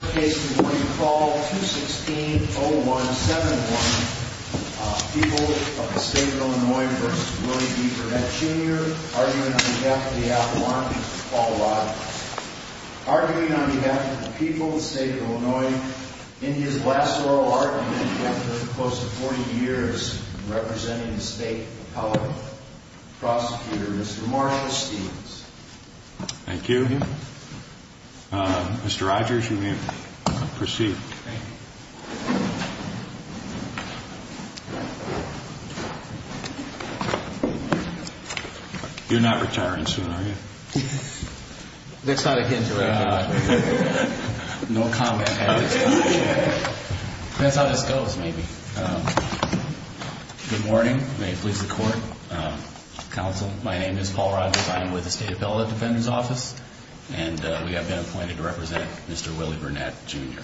The case we're going to call 216-0171, People of the State of Illinois v. Willie B. Burnett, Jr. Arguing on behalf of the people of the state of Illinois in his last oral argument after close to 40 years in representing the state of Colorado. Prosecutor, Mr. Marshall Stevens. Thank you. Mr. Rogers, you may proceed. You're not retiring soon, are you? That's not a hint. No comment. That's how this goes, maybe. Good morning. May it please the court, counsel. My name is Paul Rogers. I am with the State of Illinois Defendant's Office. And we have been appointed to represent Mr. Willie Burnett, Jr.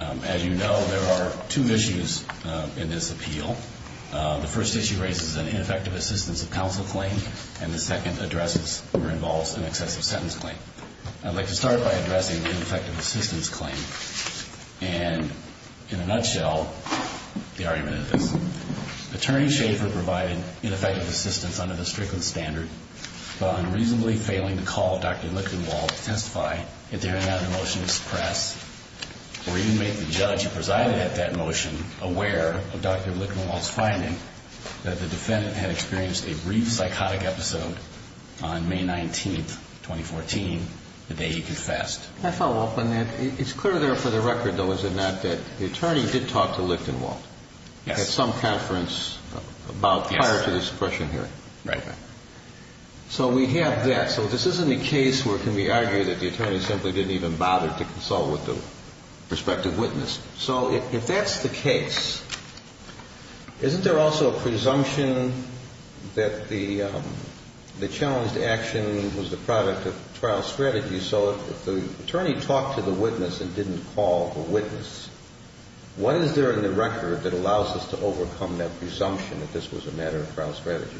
As you know, there are two issues in this appeal. The first issue raises an ineffective assistance of counsel claim, and the second addresses or involves an excessive sentence claim. I'd like to start by addressing the ineffective assistance claim and, in a nutshell, the argument of this. Attorney Schaffer provided ineffective assistance under the Strickland Standard, while unreasonably failing to call Dr. Lichtenwald to testify at the hearing on a motion to suppress, or even make the judge who presided at that motion aware of Dr. Lichtenwald's finding that the defendant had experienced a brief psychotic episode on May 19, 2014, the day he confessed. May I follow up on that? It's clear there for the record, though, is it not, that the attorney did talk to Lichtenwald? Yes. At some conference prior to the suppression hearing. Right. So we have that. So this isn't a case where it can be argued that the attorney simply didn't even bother to consult with the prospective witness. So if that's the case, isn't there also a presumption that the challenged action was the product of trial strategy? So if the attorney talked to the witness and didn't call the witness, what is there in the record that allows us to overcome that presumption that this was a matter of trial strategy?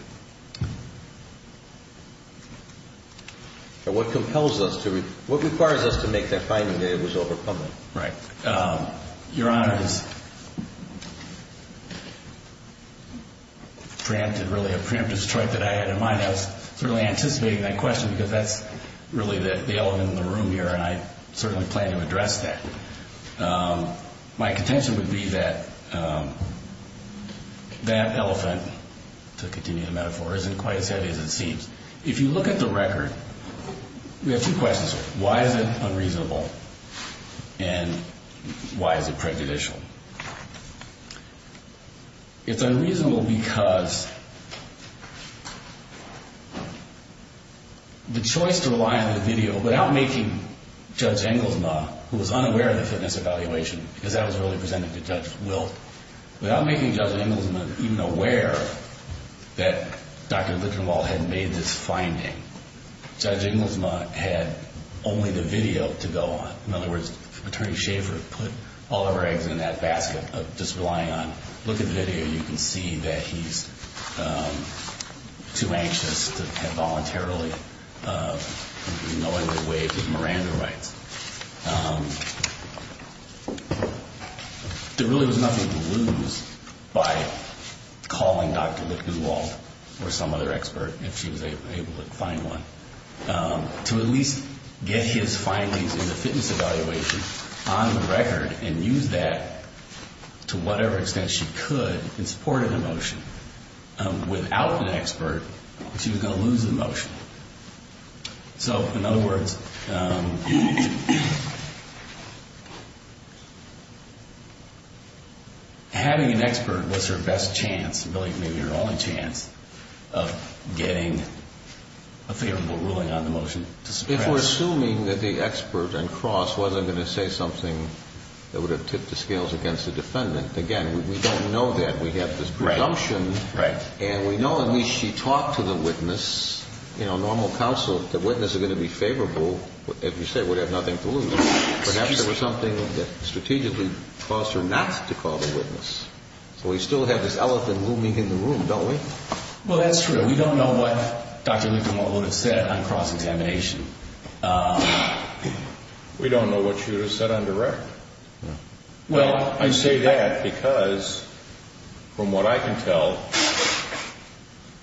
What compels us to, what requires us to make that finding that it was over public? Right. Your Honor, this preempted really a preemptive strike that I had in mind. I was certainly anticipating that question because that's really the elephant in the room here, and I certainly plan to address that. My contention would be that that elephant, to continue the metaphor, isn't quite as heavy as it seems. If you look at the record, we have two questions here. Why is it unreasonable and why is it prejudicial? It's unreasonable because the choice to rely on the video without making Judge Engelsma, who was unaware of the fitness evaluation, because that was really presented to Judge Wilt, without making Judge Engelsma even aware that Dr. Lichtenwald had made this finding, Judge Engelsma had only the video to go on. In other words, Attorney Schaefer put all of her eggs in that basket of just relying on, look at the video, you can see that he's too anxious to voluntarily be knowingly waived his Miranda rights. There really was nothing to lose by calling Dr. Lichtenwald or some other expert, if she was able to find one, to at least get his findings in the fitness evaluation on the record and use that to whatever extent she could in support of the motion. Without an expert, she was going to lose the motion. So, in other words, having an expert was her best chance, maybe her only chance, of getting a favorable ruling on the motion to suppress. If we're assuming that the expert and Cross wasn't going to say something that would have tipped the scales against the defendant, again, we don't know that. We have this presumption, and we know at least she talked to the witness. Normal counsel, the witness is going to be favorable, as you say, would have nothing to lose. Perhaps there was something that strategically caused her not to call the witness. So we still have this elephant looming in the room, don't we? Well, that's true. We don't know what Dr. Lichtenwald would have said on cross-examination. We don't know what she would have said on direct. Well, I say that because, from what I can tell,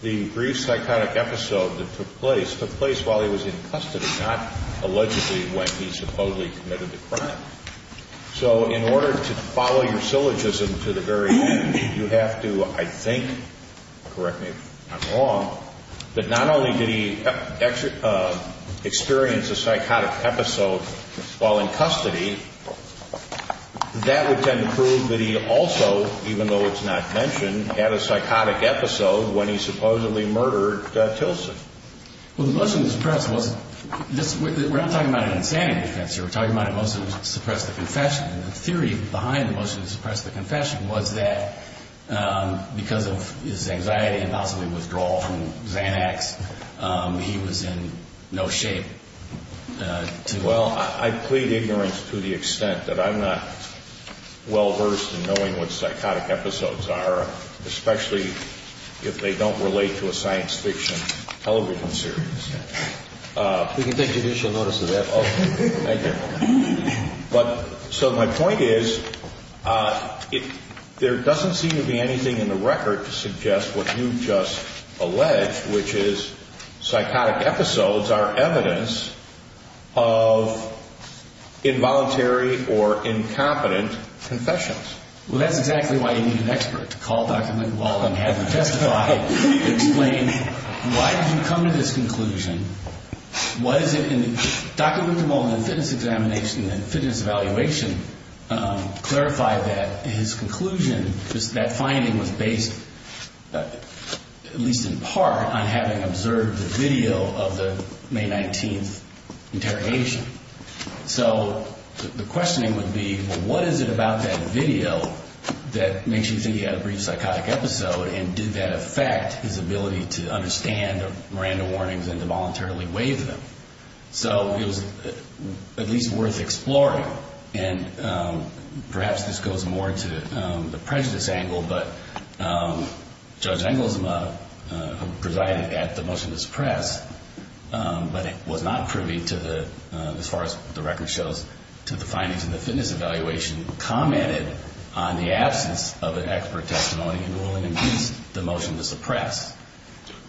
the brief psychotic episode that took place took place while he was in custody, not allegedly when he supposedly committed the crime. So in order to follow your syllogism to the very end, you have to, I think, correct me if I'm wrong, that not only did he experience a psychotic episode while in custody, that would tend to prove that he also, even though it's not mentioned, had a psychotic episode when he supposedly murdered Tilson. Well, the motion to suppress was, we're not talking about an insanity defense here, we're talking about a motion to suppress the confession. And the theory behind the motion to suppress the confession was that because of his anxiety and possibly withdrawal from Xanax, he was in no shape to... Well, I plead ignorance to the extent that I'm not well-versed in knowing what psychotic episodes are, especially if they don't relate to a science fiction television show. We can take judicial notice of that. So my point is, there doesn't seem to be anything in the record to suggest what you just alleged, which is psychotic episodes are evidence of involuntary or incompetent confessions. Well, that's exactly why you need an expert to call Dr. Lincoln while I'm having him testify and explain why did you come to this conclusion, what is it... Dr. Lincoln's fitness examination and fitness evaluation clarified that his conclusion, that finding was based, at least in part, on having observed the video of the May 19th interrogation. So the questioning would be, well, what is it about that video that makes you think he had a brief psychotic episode and did that affect his ability to understand Miranda warnings and to voluntarily waive them? So it was at least worth exploring. And perhaps this goes more to the prejudice angle, but Judge Engelsma presided at the motion to suppress, but it was not privy to the psychotic episode. As far as the record shows, to the findings in the fitness evaluation commented on the absence of an expert testimony ruling against the motion to suppress.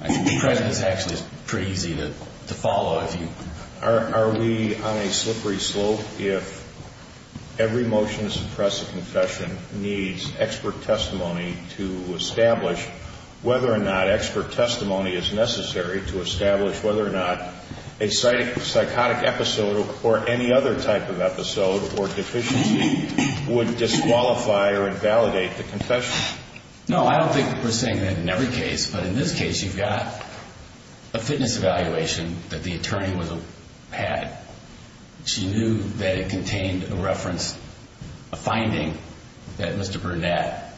I think prejudice actually is pretty easy to follow if you... Are we on a slippery slope if every motion to suppress a confession needs expert testimony to establish whether or not expert testimony is necessary to establish whether or not a psychotic episode occurred? Or any other type of episode or deficiency would disqualify or invalidate the confession? No, I don't think we're saying that in every case, but in this case you've got a fitness evaluation that the attorney had. She knew that it contained a reference, a finding, that Mr. Burnett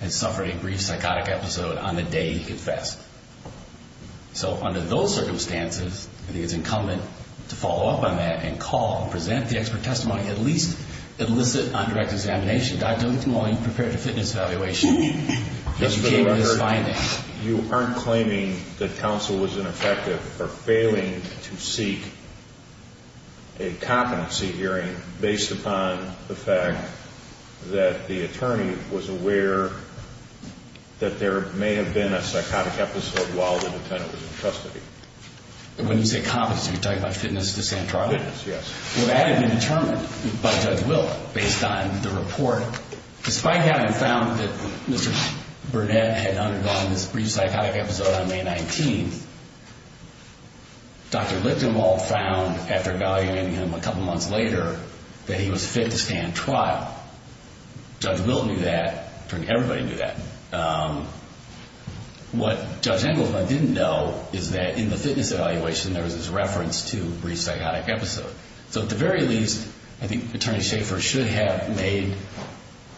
had suffered a brief psychotic episode on the day he confessed. So under those circumstances, I think it's incumbent to follow up on that and call and present the expert testimony. At least elicit undirected examination. I don't want you to prepare a fitness evaluation if you came to this finding. Just for the record, you aren't claiming that counsel was ineffective for failing to seek a competency hearing based upon the fact that the attorney was aware that there may have been a psychotic episode. When you say competency, you're talking about fitness to stand trial? Fitness, yes. Well, that had been determined by Judge Wilt based on the report. Despite having found that Mr. Burnett had undergone this brief psychotic episode on May 19th, Dr. Lichtenwald found, after evaluating him a couple months later, that he was fit to stand trial. Judge Wilt knew that. Everybody knew that. What Judge Engelsma didn't know is that in the fitness evaluation, there was this reference to brief psychotic episode. So at the very least, I think Attorney Schaffer should have made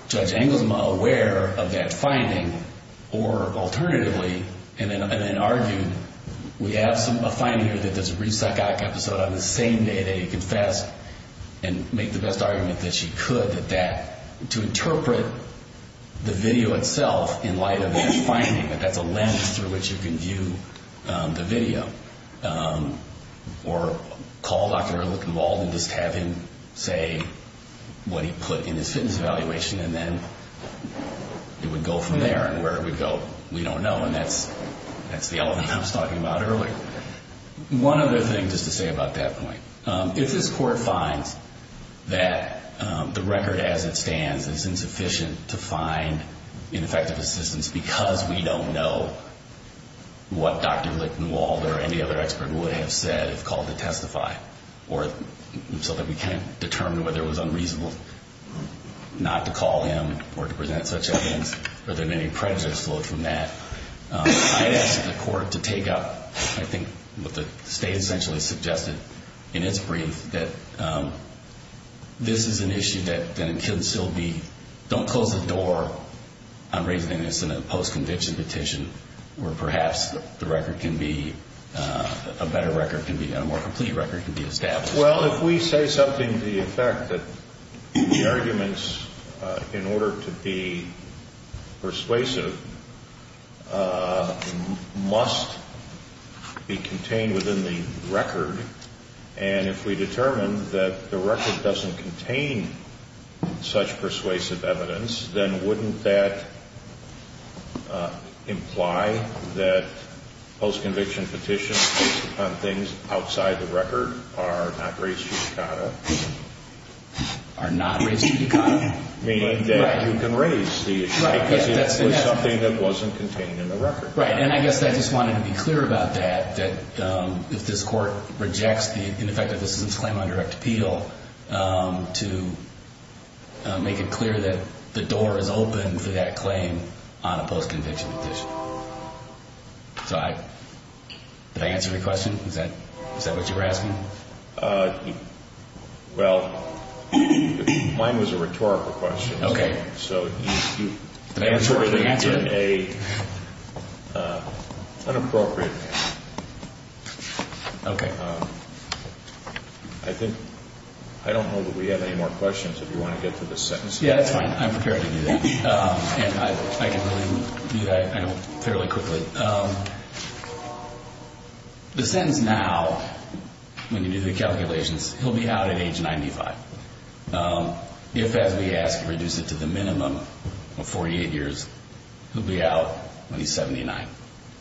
Judge Engelsma aware of that finding, or alternatively, and then argued, we have a finding here that there's a brief psychotic episode on the same day that he confessed, and make the best argument that she could that that, to interpret, would have been a psychotic episode. But I think the video itself, in light of that finding, that that's a lens through which you can view the video, or call Dr. Lichtenwald and just have him say what he put in his fitness evaluation, and then it would go from there, and where it would go, we don't know. And that's the element I was talking about earlier. One other thing, just to say about that point. If this Court finds that the record as it stands is insufficient to find ineffective assistance because we don't know what Dr. Lichtenwald or any other expert would have said if called to testify, or so that we can determine whether it was unreasonable not to call him or to present such evidence, or there may be prejudices flowed from that, I'd ask the Court to take up, I think, what the State essentially suggested, in its view, the evidence. And Dr. Lichtenwald, I'm sure you can agree with that this is an issue that can still be, don't close the door on raising an innocent in a post-conviction petition, where perhaps the record can be, a better record can be, a more complete record can be established. Well, if we say something to the effect that the arguments, in order to be persuasive, must be contained within the record, and if we determine that the record doesn't contain such persuasive evidence, then wouldn't that imply that post-conviction petitions based upon things outside the record are not sufficient? I guess I just wanted to be clear about that, that if this Court rejects the ineffective assistance claim on direct appeal, to make it clear that the door is open for that claim on a post-conviction petition. So, did I answer your question? Is that what you were asking? Well, mine was a rhetorical question. Okay. So, you answered it in an inappropriate manner. Okay. I think, I don't know that we have any more questions, if you want to get to the sentence. Yeah, that's fine. I'm prepared to do that. And I can really do that fairly quickly. The sentence now, when you do the calculations, he'll be out at age 95. If, as we ask, you reduce it to the minimum of 48 years, he'll be out when he's 79.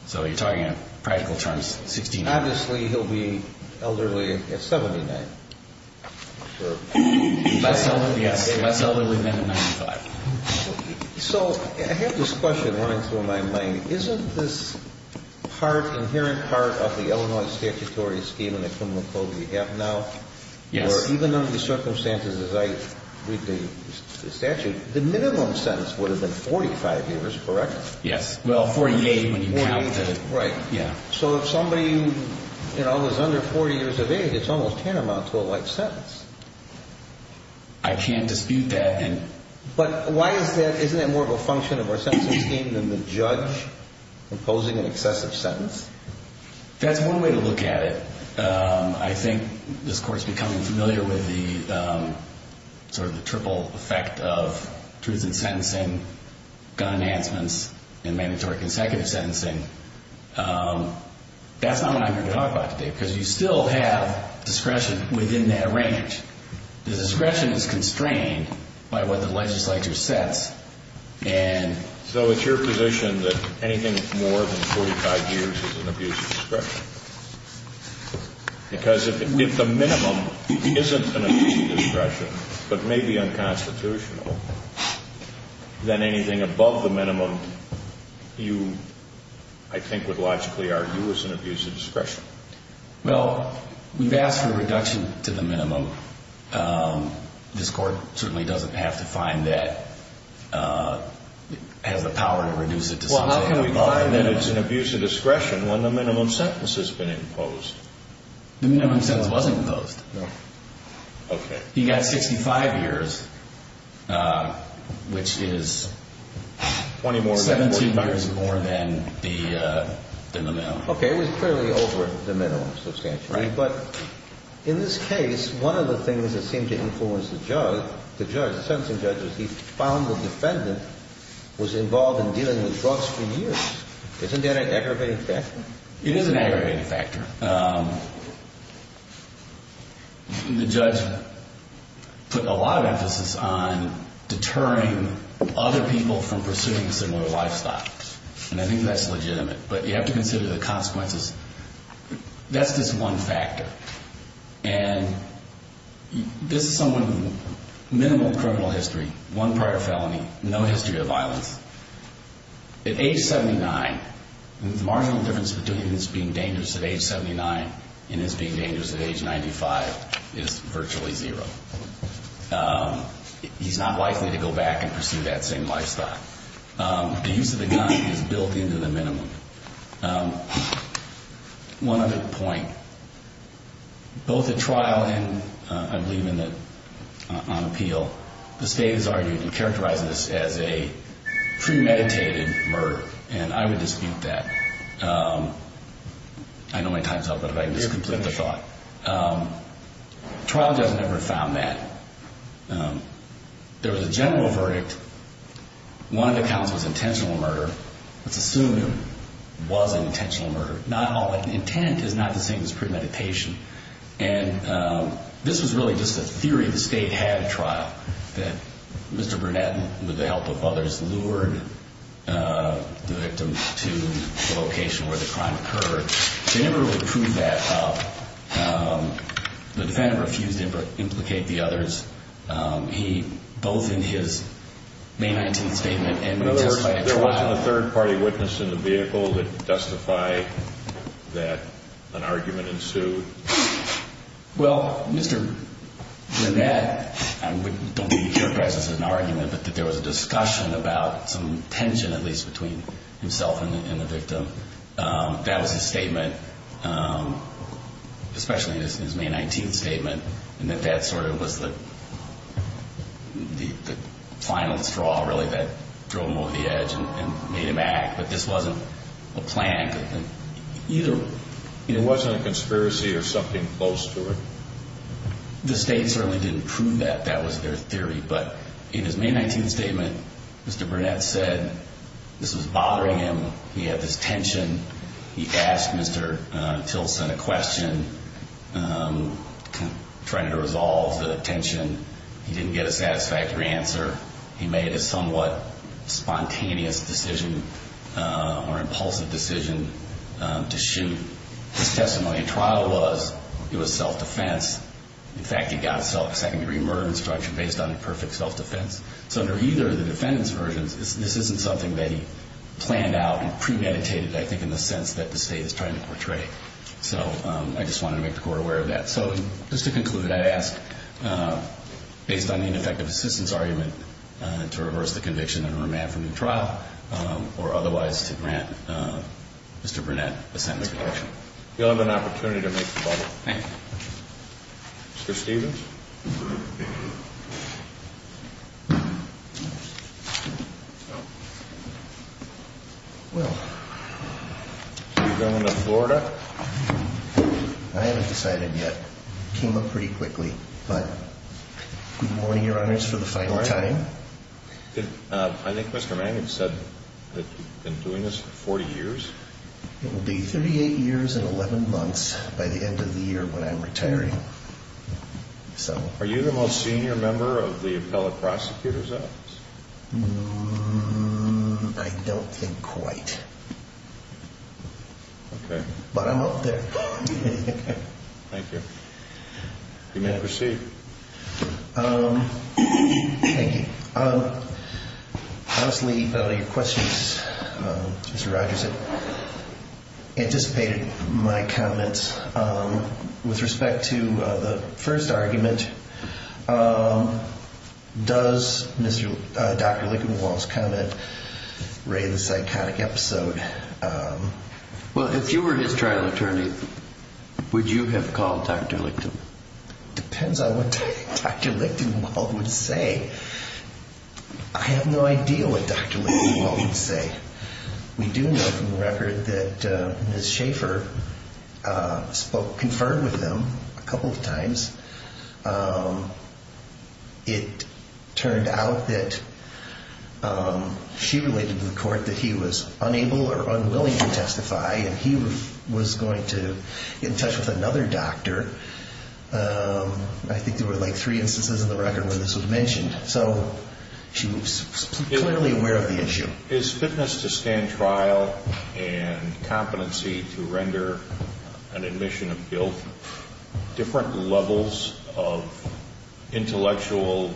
So, you're talking in practical terms, 69. Obviously, he'll be elderly at 79. Less elderly, yes. Less elderly than at 95. So, I have this question running through my mind. Isn't this part, inherent part of the Illinois statutory scheme and the criminal code we have now? Yes. Or even under the circumstances as I read the statute, the minimum sentence would have been 45 years, correct? Yes. Well, 48 when you count the... 48, right. Yeah. So, if somebody, you know, is under 40 years of age, it's almost tantamount to a light sentence. I can't dispute that. But why is that? Isn't that more of a function of our sentencing scheme than the judge imposing an excessive sentence? That's one way to look at it. I think this Court's becoming familiar with the sort of the triple effect of truth in sentencing, gun enhancements, and mandatory consecutive sentencing. That's not what I'm here to talk about today because you still have discretion within that range. The discretion is constrained by what the legislature sets. So it's your position that anything more than 45 years is an abuse of discretion? Because if the minimum isn't an abuse of discretion, but may be unconstitutional, then anything above the minimum you, I think, would logically argue is an abuse of discretion. Well, we've asked for a reduction to the minimum. This Court certainly doesn't have to find that it has the power to reduce it to something... Well, how can we find that it's an abuse of discretion when the minimum sentence has been imposed? The minimum sentence wasn't imposed. Okay. You got 65 years, which is 17 years more than the minimum. Okay, it was clearly over the minimum substantially. Right. But in this case, one of the things that seemed to influence the judge, the judge, the sentencing judge, was he found the defendant was involved in dealing with drugs for years. Isn't that an aggravating factor? It is an aggravating factor. The judge put a lot of emphasis on deterring other people from pursuing similar lifestyles, and I think that's legitimate. But you have to consider the consequences. That's just one factor. And this is someone with minimal criminal history, one prior felony, no history of violence. At age 79, the marginal difference between this being dangerous at age 79 and this being dangerous at age 95 is virtually zero. He's not likely to go back and pursue that same lifestyle. The use of the gun is built into the minimum. One other point. Both at trial and, I believe, on appeal, the state has argued and characterized this as a premeditated murder, and I would dispute that. I know my time's up, but if I can just complete the thought. The trial judge never found that. There was a general verdict. One of the counts was intentional murder. Let's assume it was an intentional murder. Not all intent is not the same as premeditation. And this was really just a theory the state had at trial, that Mr. Burnett, with the help of others, lured the victim to the location where the crime occurred. They never really proved that up. The defendant refused to implicate the others, both in his May 19th statement and just by a trial. In other words, there wasn't a third-party witness in the vehicle that could justify that an argument ensued? Well, Mr. Burnett, I don't think he characterized this as an argument, but that there was a discussion about some tension, at least, between himself and the victim. That was his statement, especially in his May 19th statement, and that that sort of was the final straw, really, that drove him over the edge and made him act. But this wasn't a plan. It wasn't a conspiracy or something close to it? The state certainly didn't prove that. That was their theory. But in his May 19th statement, Mr. Burnett said this was bothering him. He had this tension. He asked Mr. Tilson a question, trying to resolve the tension. He didn't get a satisfactory answer. He made a somewhat spontaneous decision or impulsive decision to shoot. His testimony at trial was it was self-defense. In fact, he got a second-degree murder instruction based on a perfect self-defense. So under either of the defendant's versions, this isn't something that he planned out and premeditated, I think, in the sense that the state is trying to portray. So I just wanted to make the Court aware of that. So just to conclude, I'd ask, based on the ineffective assistance argument, to reverse the conviction and remand for a new trial, or otherwise to grant Mr. Burnett a sentence reduction. You'll have an opportunity to make the call. Thank you. Mr. Stevens? Well. Are you going to Florida? I haven't decided yet. It came up pretty quickly. But good morning, Your Honors, for the final time. I think Mr. Manning said that you've been doing this for 40 years. It will be 38 years and 11 months by the end of the year when I'm retiring. Are you the most senior member of the appellate prosecutor's office? I don't think quite. Okay. But I'm up there. Thank you. You may proceed. Thank you. Honestly, your questions, Mr. Rogers, anticipated my comments. With respect to the first argument, does Dr. Lichtenwald's comment, Ray, the psychotic episode? Well, if you were his trial attorney, would you have called Dr. Lichtenwald? Depends on what Dr. Lichtenwald would say. I have no idea what Dr. Lichtenwald would say. We do know from the record that Ms. Schaefer spoke, conferred with him a couple of times. It turned out that she related to the court that he was unable or unwilling to testify, and he was going to get in touch with another doctor. I think there were like three instances in the record when this was mentioned. So she was clearly aware of the issue. Is fitness to stand trial and competency to render an admission of guilt different levels of intellectual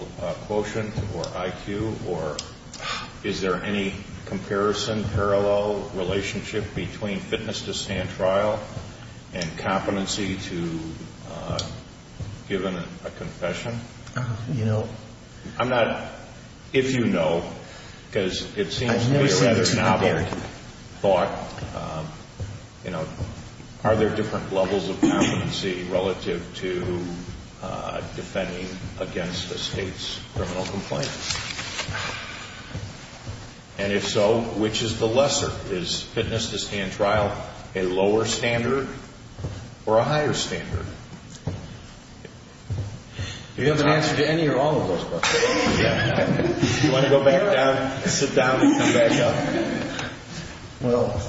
quotient or IQ, or is there any comparison, parallel relationship between fitness to stand trial and competency to giving a confession? You know. I'm not, if you know, because it seems to be a rather novel thought. You know, are there different levels of competency relative to defending against a state's criminal complaint? And if so, which is the lesser? Is fitness to stand trial a lower standard or a higher standard? Do you have an answer to any or all of those questions? Do you want to go back down, sit down, and come back up? Well,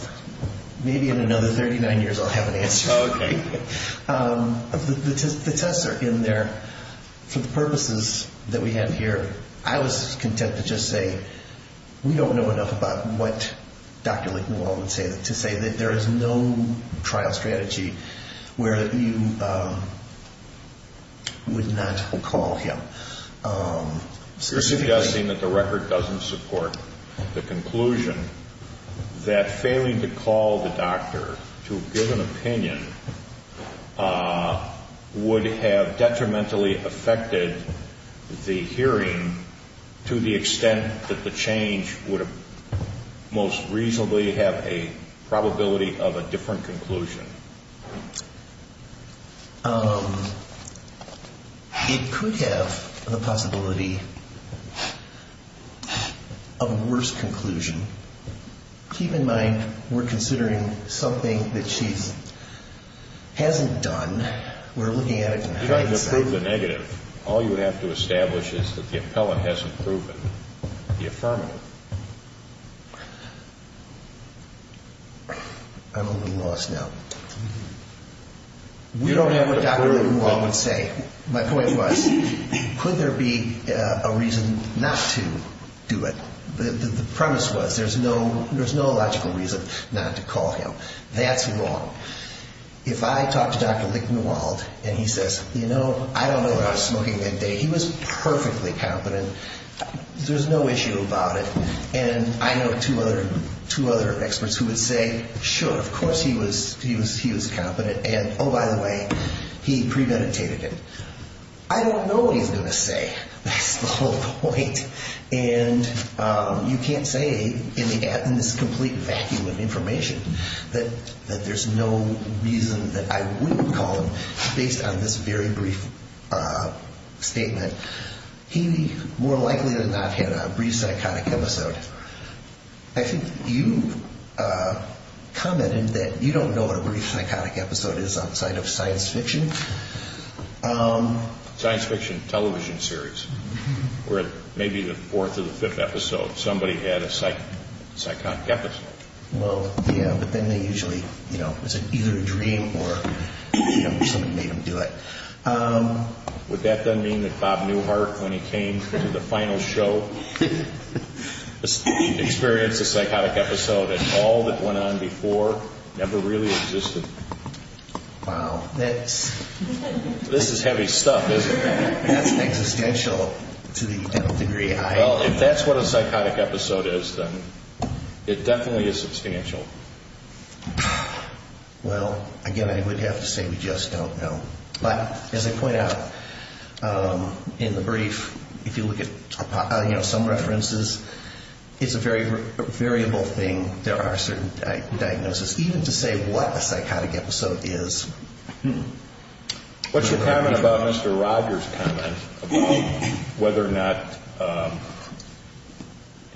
maybe in another 39 years I'll have an answer. Oh, okay. The tests are in there for the purposes that we have here. I was content to just say we don't know enough about what Dr. Licknewell would say, to say that there is no trial strategy where you would not call him. You're suggesting that the record doesn't support the conclusion that failing to call the doctor to give an opinion would have detrimentally affected the hearing to the extent that the change would most reasonably have a probability of a different conclusion. It could have the possibility of a worse conclusion. Keep in mind, we're considering something that she hasn't done. We're looking at it from hindsight. You don't have to prove the negative. All you would have to establish is that the appellant hasn't proven the affirmative. I'm a little lost now. We don't have a doctor that Licknewell would say. My point was, could there be a reason not to do it? The premise was there's no logical reason not to call him. That's wrong. If I talk to Dr. Licknewell and he says, I don't know what I was smoking that day. He was perfectly competent. There's no issue about it. I know two other experts who would say, sure, of course he was competent. Oh, by the way, he premeditated it. I don't know what he's going to say. That's the whole point. You can't say in this complete vacuum of information that there's no reason that I wouldn't call him based on this very brief statement. He more likely than not had a brief psychotic episode. I think you commented that you don't know what a brief psychotic episode is outside of science fiction. Science fiction television series. Where maybe the fourth or the fifth episode, somebody had a psychotic episode. Well, yeah, but then they usually, you know, it was either a dream or somebody made them do it. Would that then mean that Bob Newhart, when he came to the final show, experienced a psychotic episode and all that went on before never really existed? Wow. This is heavy stuff, isn't it? That's existential to the degree I am. Well, if that's what a psychotic episode is, then it definitely is substantial. Well, again, I would have to say we just don't know. But as I point out in the brief, if you look at some references, it's a very variable thing. There are certain diagnoses, even to say what a psychotic episode is. What's your comment about Mr. Rogers' comment about whether or not,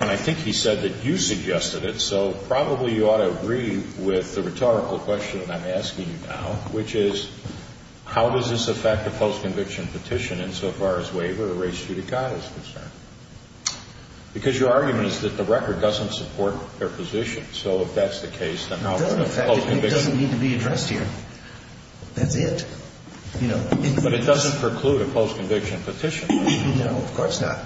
and I think he said that you suggested it, so probably you ought to agree with the rhetorical question that I'm asking you now, which is how does this affect the post-conviction petition insofar as waiver or res judicata is concerned? Because your argument is that the record doesn't support their position. So if that's the case, then how will the post-conviction… That's it. But it doesn't preclude a post-conviction petition. No, of course not.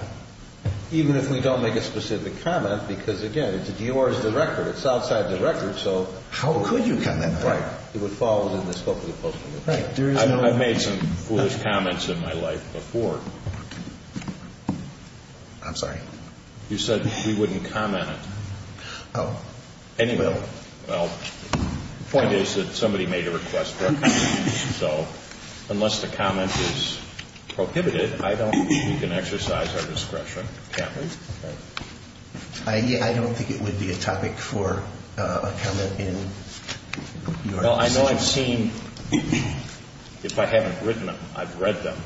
Even if we don't make a specific comment, because, again, it's yours, the record. It's outside the record, so… How could you comment on it? It would fall within the scope of the post-conviction. I've made some foolish comments in my life before. I'm sorry? You said we wouldn't comment on it. Oh. Anyway, well, the point is that somebody made a request for it, so unless the comment is prohibited, I don't think we can exercise our discretion. Can't we? I don't think it would be a topic for a comment in your session. Well, I know I've seen, if I haven't written them, I've read them,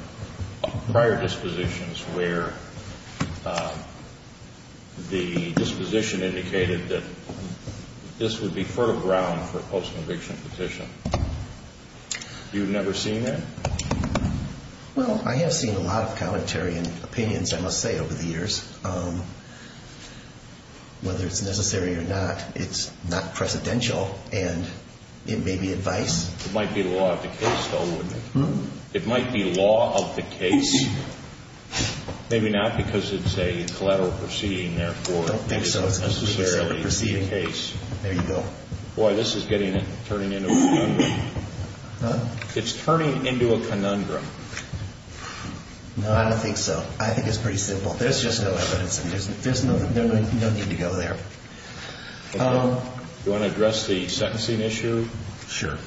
prior dispositions where the disposition indicated that this would be fertile ground for a post-conviction petition. You've never seen that? Well, I have seen a lot of commentary and opinions, I must say, over the years. Whether it's necessary or not, it's not precedential, and it may be advice. It might be law of the case, though, wouldn't it? It might be law of the case, maybe not because it's a collateral proceeding, therefore, it's not necessarily the case. There you go. Boy, this is turning into a conundrum. Huh? It's turning into a conundrum. No, I don't think so. I think it's pretty simple. There's just no evidence, and there's no need to go there. Do you want to address the sentencing issue? Sure.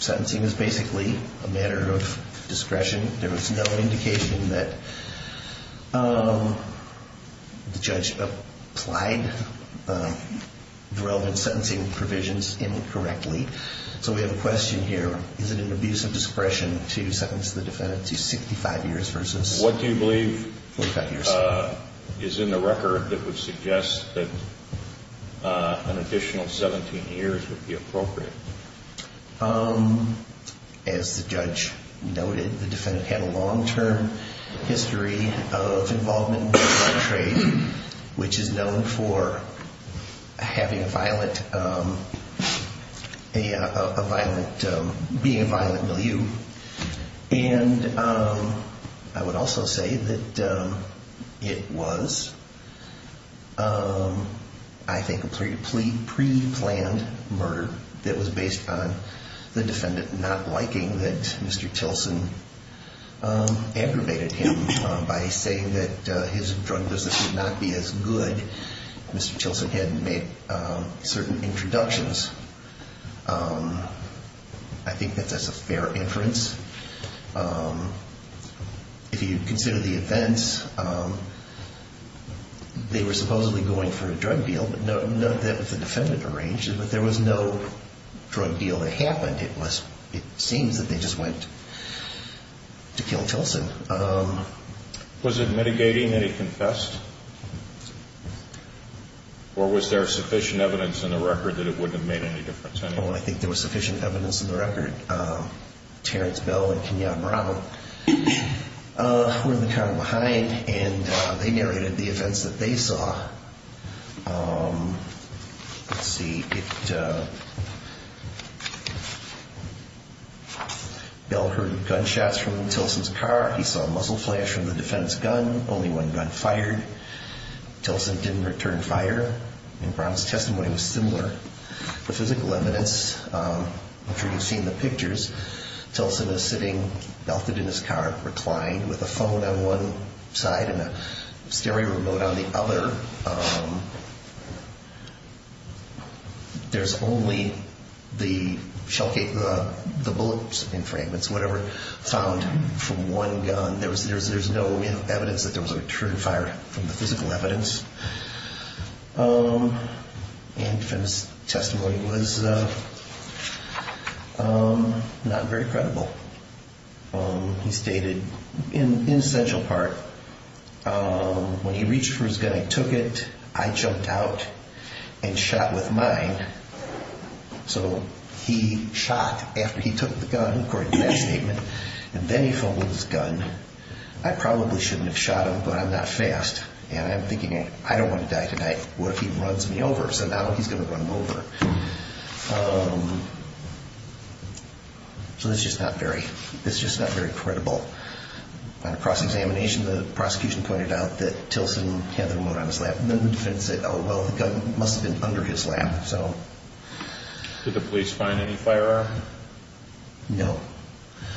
Sentencing is basically a matter of discretion. There was no indication that the judge applied the relevant sentencing provisions incorrectly. So we have a question here. Is it an abuse of discretion to sentence the defendant to 65 years versus 45 years? Is in the record that would suggest that an additional 17 years would be appropriate? As the judge noted, the defendant had a long-term history of involvement in drug trade, which is known for having a violent, being a violent milieu. And I would also say that it was, I think, a pre-planned murder that was based on the defendant not liking that Mr. Tilson aggravated him. By saying that his drug business would not be as good, Mr. Tilson had made certain introductions. I think that that's a fair inference. If you consider the events, they were supposedly going for a drug deal, but not that the defendant arranged it. But there was no drug deal that happened. It seems that they just went to kill Tilson. Was it mitigating that he confessed? Or was there sufficient evidence in the record that it wouldn't have made any difference? Well, I think there was sufficient evidence in the record. Terrence Bell and Kenyatta Bravo were in the car behind, and they narrated the events that they saw. Let's see. Bell heard gunshots from Tilson's car. He saw a muzzle flash from the defense gun. Only one gun fired. Tilson didn't return fire. In Brown's testimony, it was similar. The physical evidence, if you've seen the pictures, Tilson is sitting belted in his car, reclined, with a phone on one side and a stereo remote on the other. There's only the shell case, the bullets and fragments, whatever, found from one gun. There's no evidence that there was a return fire from the physical evidence. And the defendant's testimony was not very credible. He stated an essential part. When he reached for his gun, he took it. I jumped out and shot with mine. So he shot after he took the gun, according to that statement. And then he folded his gun. I probably shouldn't have shot him, but I'm not fast. And I'm thinking, I don't want to die tonight. What if he runs me over? So now he's going to run me over. So it's just not very credible. On a cross-examination, the prosecution pointed out that Tilson had the remote on his lap. And then the defendant said, oh, well, the gun must have been under his lap. Did the police find any firearm? No.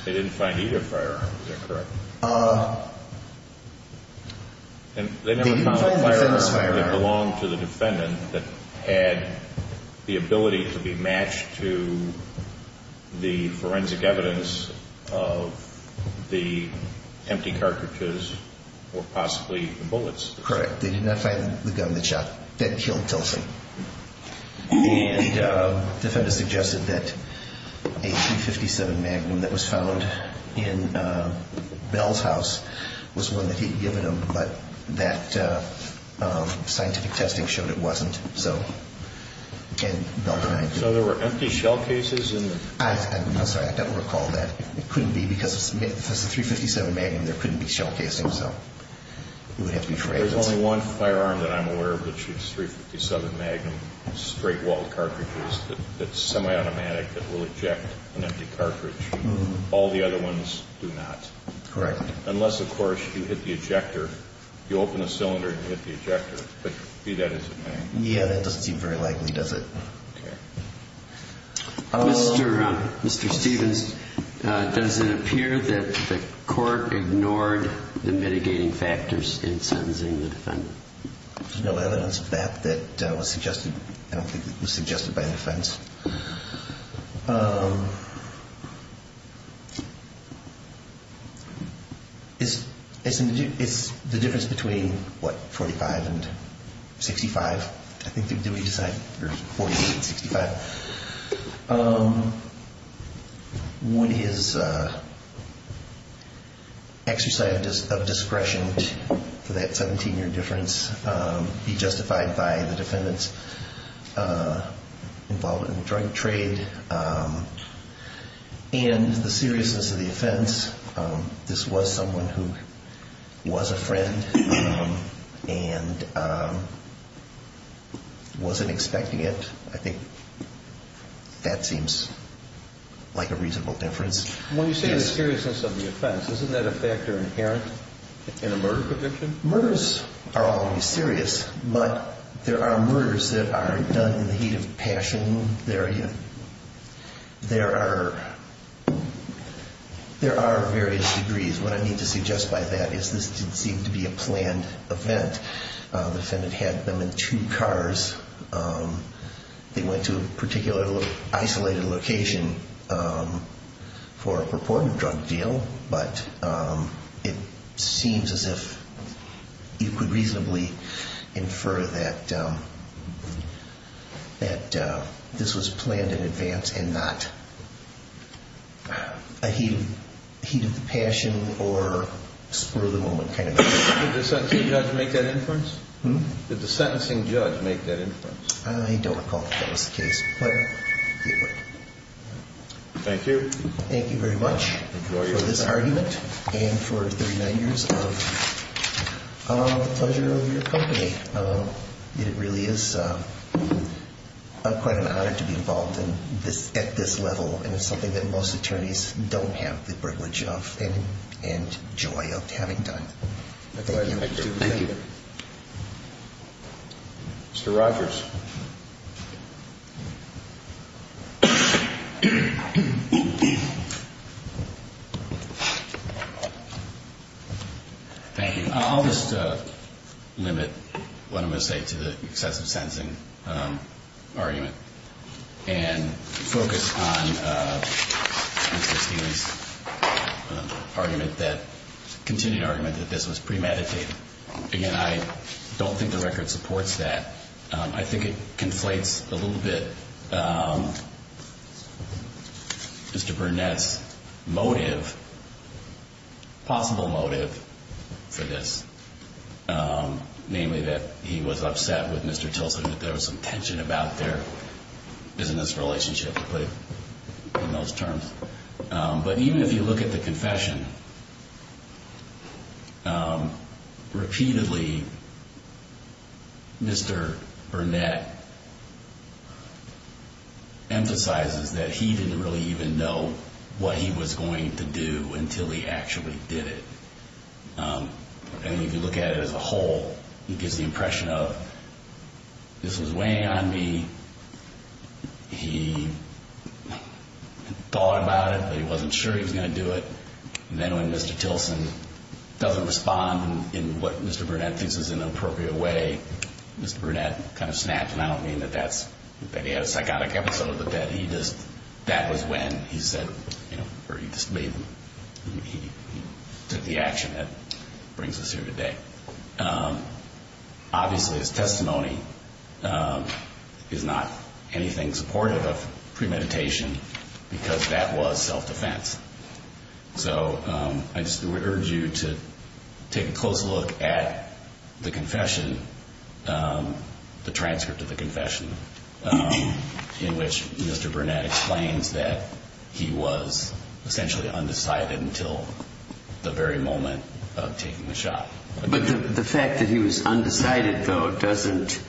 They didn't find either firearm, is that correct? They didn't find the defendant's firearm. They never found a firearm that belonged to the defendant that had the ability to be matched to the forensic evidence of the empty cartridges or possibly the bullets. Correct. They did not find the gun that killed Tilson. And the defendant suggested that a .357 Magnum that was found in Bell's house was one that he'd given him, but that scientific testing showed it wasn't. So, again, Bell denied it. So there were empty shell cases in the – I'm sorry. I don't recall that. It couldn't be because if it's a .357 Magnum, there couldn't be shell casings. So it would have to be for evidence. There's only one firearm that I'm aware of that shoots .357 Magnum straight-walled cartridges that's semi-automatic that will eject an empty cartridge. All the other ones do not. Correct. Unless, of course, you hit the ejector. You open a cylinder and hit the ejector. But be that as it may. Yeah, that doesn't seem very likely, does it? Okay. Mr. Stevens, does it appear that the court ignored the mitigating factors in sentencing the defendant? There's no evidence of that that was suggested. I don't think it was suggested by the defense. Is the difference between, what, .45 and .65? I think, did we decide? There's .45 and .65. Would his exercise of discretion for that 17-year difference be justified by the defendant's involvement in drug trade? And the seriousness of the offense, this was someone who was a friend. And wasn't expecting it. I think that seems like a reasonable difference. When you say the seriousness of the offense, isn't that a factor inherent in a murder conviction? Murders are always serious. But there are murders that are done in the heat of passion. There are various degrees. What I need to suggest by that is this didn't seem to be a planned event. The defendant had them in two cars. They went to a particular isolated location for a purported drug deal. But it seems as if you could reasonably infer that this was planned in advance and not a heat of passion or spur-of-the-moment kind of thing. Did the sentencing judge make that inference? I don't recall that that was the case. Thank you. Thank you very much. For this argument and for 39 years of the pleasure of your company. It really is quite an honor to be involved at this level. And it's something that most attorneys don't have the privilege of and joy of having done. Thank you. Thank you. Mr. Rogers. Thank you. I'll just limit what I'm going to say to the excessive sentencing argument and focus on Mr. Steele's argument that, continued argument, that this was premeditated. Again, I don't think the record supports that. I think the record supports that. I think it conflates a little bit Mr. Burnett's motive, possible motive, for this. Namely that he was upset with Mr. Tilson, that there was some tension about their business relationship in those terms. But even if you look at the confession, repeatedly Mr. Burnett emphasizes that he didn't really even know what he was going to do until he actually did it. And if you look at it as a whole, he gives the impression of, this was weighing on me. He thought about it, but he wasn't sure he was going to do it. And then when Mr. Tilson doesn't respond in what Mr. Burnett thinks is an appropriate way, Mr. Burnett kind of snaps. And I don't mean that he had a psychotic episode, but that he just, that was when he said, or he just made, he took the action that brings us here today. Obviously his testimony is not anything supportive of premeditation, because that was self-defense. So I urge you to take a closer look at the confession, the transcript of the confession, in which Mr. Burnett explains that he was essentially undecided until the very moment of taking the shot. But the fact that he was undecided, though, doesn't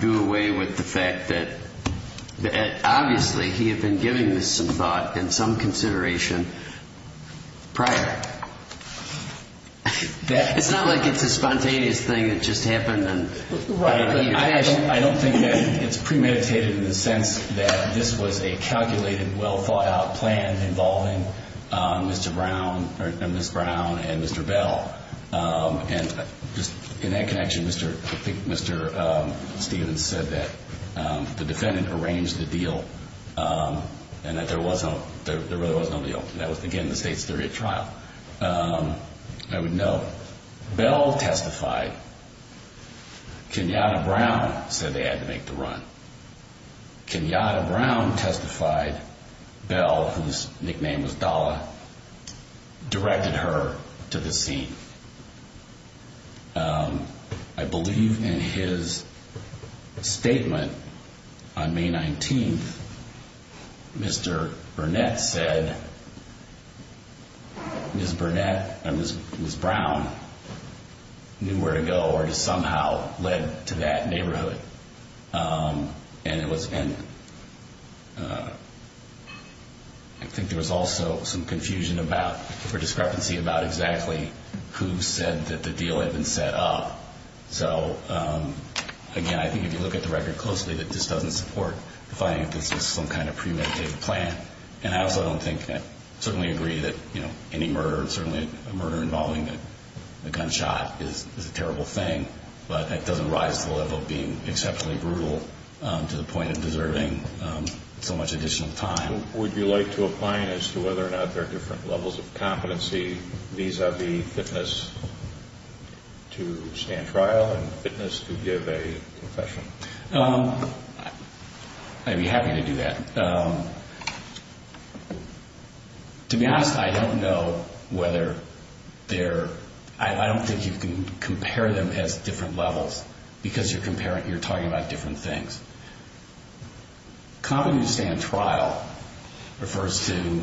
do away with the fact that obviously he had been giving this some thought and some consideration prior. It's not like it's a spontaneous thing that just happened. I don't think that it's premeditated in the sense that this was a calculated, well-thought-out plan involving Mr. Brown and Ms. Brown and Mr. Bell. And just in that connection, I think Mr. Stevens said that the defendant arranged the deal and that there really was no deal. That was, again, the State's theory of trial. I would note, Bell testified. Kenyatta Brown said they had to make the run. Kenyatta Brown testified. Bell, whose nickname was Dalla, directed her to the scene. I believe in his statement on May 19th, Mr. Burnett said Ms. Brown knew where to go or to somehow led to that neighborhood. And I think there was also some confusion for discrepancy about exactly who said that the deal had been set up. So, again, I think if you look at the record closely, that this doesn't support the finding that this was some kind of premeditated plan. And I also don't think I certainly agree that any murder, certainly a murder involving a gunshot, is a terrible thing. But it doesn't rise to the level of being exceptionally brutal to the point of deserving so much additional time. Would you like to opine as to whether or not there are different levels of competency vis-à-vis fitness to stand trial and fitness to give a confession? I'd be happy to do that. To be honest, I don't know whether there – I don't think you can compare them as different levels because you're comparing – you're talking about different things. Competency to stand trial refers to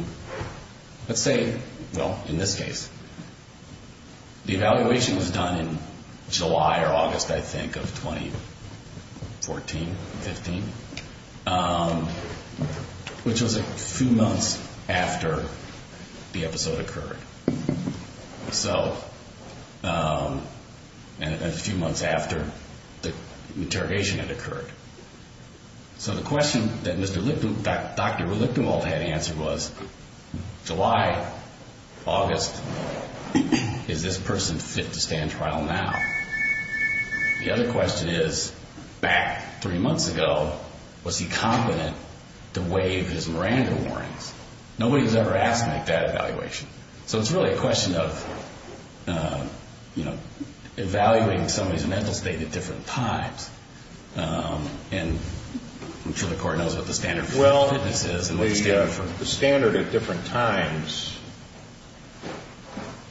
– let's say, well, in this case, the evaluation was done in July or August, I think, of 2014, 15, which was a few months after the episode occurred. So – and a few months after the interrogation had occurred. So the question that Dr. Lichtenwald had answered was, July, August, is this person fit to stand trial now? The other question is, back three months ago, was he competent to waive his Miranda warnings? Nobody was ever asked to make that evaluation. So it's really a question of, you know, evaluating somebody's mental state at different times. And I'm sure the Court knows what the standard for fitness is and what the standard for – Well, the standard at different times,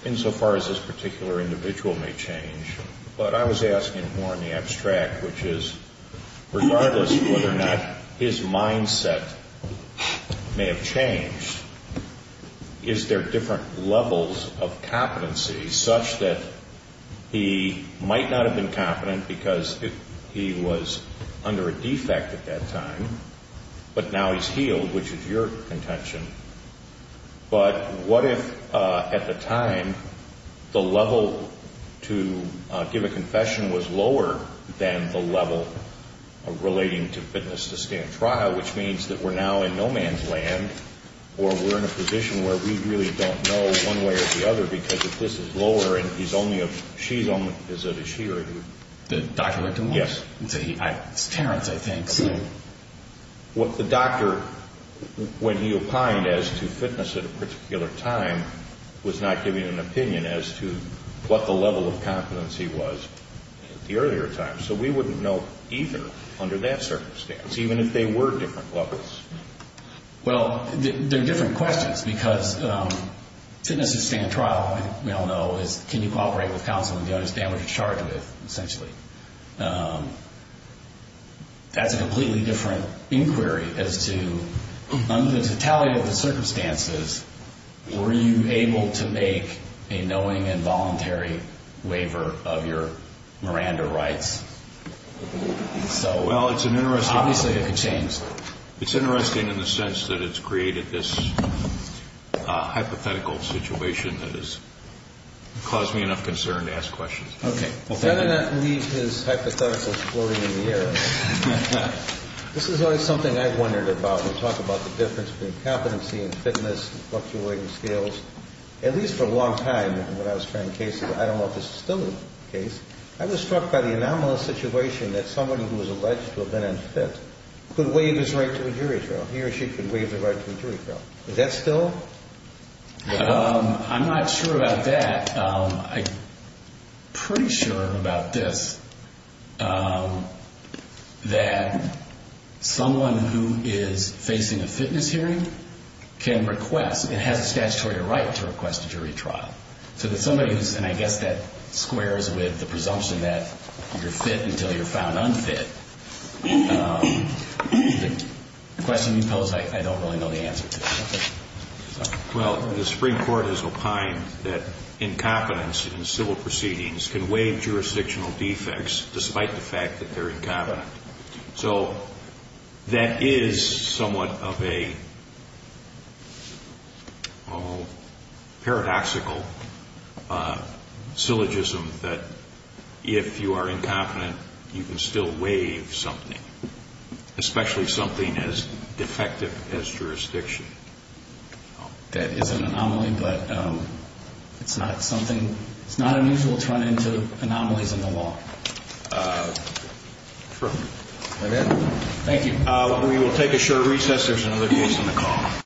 insofar as this particular individual may change, but I was asking more in the abstract, which is, regardless of whether or not his mindset may have changed, is there different levels of competency such that he might not have been competent because he was under a defect at that time, but now he's healed, which is your contention. But what if, at the time, the level to give a confession was lower than the level relating to fitness to stand trial, which means that we're now in no man's land or we're in a position where we really don't know one way or the other because if this is lower and he's only a – she's only – is it a she or a he? The Dr. Lichtenwald? Yes. It's Terrence, I think. What the doctor, when he opined as to fitness at a particular time, was not giving an opinion as to what the level of competency was at the earlier time. So we wouldn't know either under that circumstance, even if they were different levels. Well, they're different questions because fitness to stand trial, we all know, is can you cooperate with counsel and the other is damage to charge with, essentially. That's a completely different inquiry as to, under the totality of the circumstances, were you able to make a knowing and voluntary waiver of your Miranda rights? Well, it's an interesting – Obviously, it could change. It's interesting in the sense that it's created this hypothetical situation that has caused me enough concern to ask questions. Okay. Better not leave his hypotheticals floating in the air. This is always something I've wondered about. We talk about the difference between competency and fitness, fluctuating skills. At least for a long time when I was trying cases, I don't know if this is still the case, I was struck by the anomalous situation that somebody who was alleged to have been unfit could waive his right to a jury trial. He or she could waive their right to a jury trial. Is that still? I'm not sure about that. I'm pretty sure about this, that someone who is facing a fitness hearing can request – it has a statutory right to request a jury trial. So that somebody who's – and I guess that squares with the presumption that you're fit until you're found unfit. The question you posed, I don't really know the answer to. Well, the Supreme Court has opined that incompetence in civil proceedings can waive jurisdictional defects despite the fact that they're incompetent. So that is somewhat of a paradoxical syllogism that if you are incompetent, you can still waive something, especially something as defective as jurisdiction. That is an anomaly, but it's not something – it's not unusual to run into anomalies in the law. True. Thank you. We will take a short recess. There's another case on the call.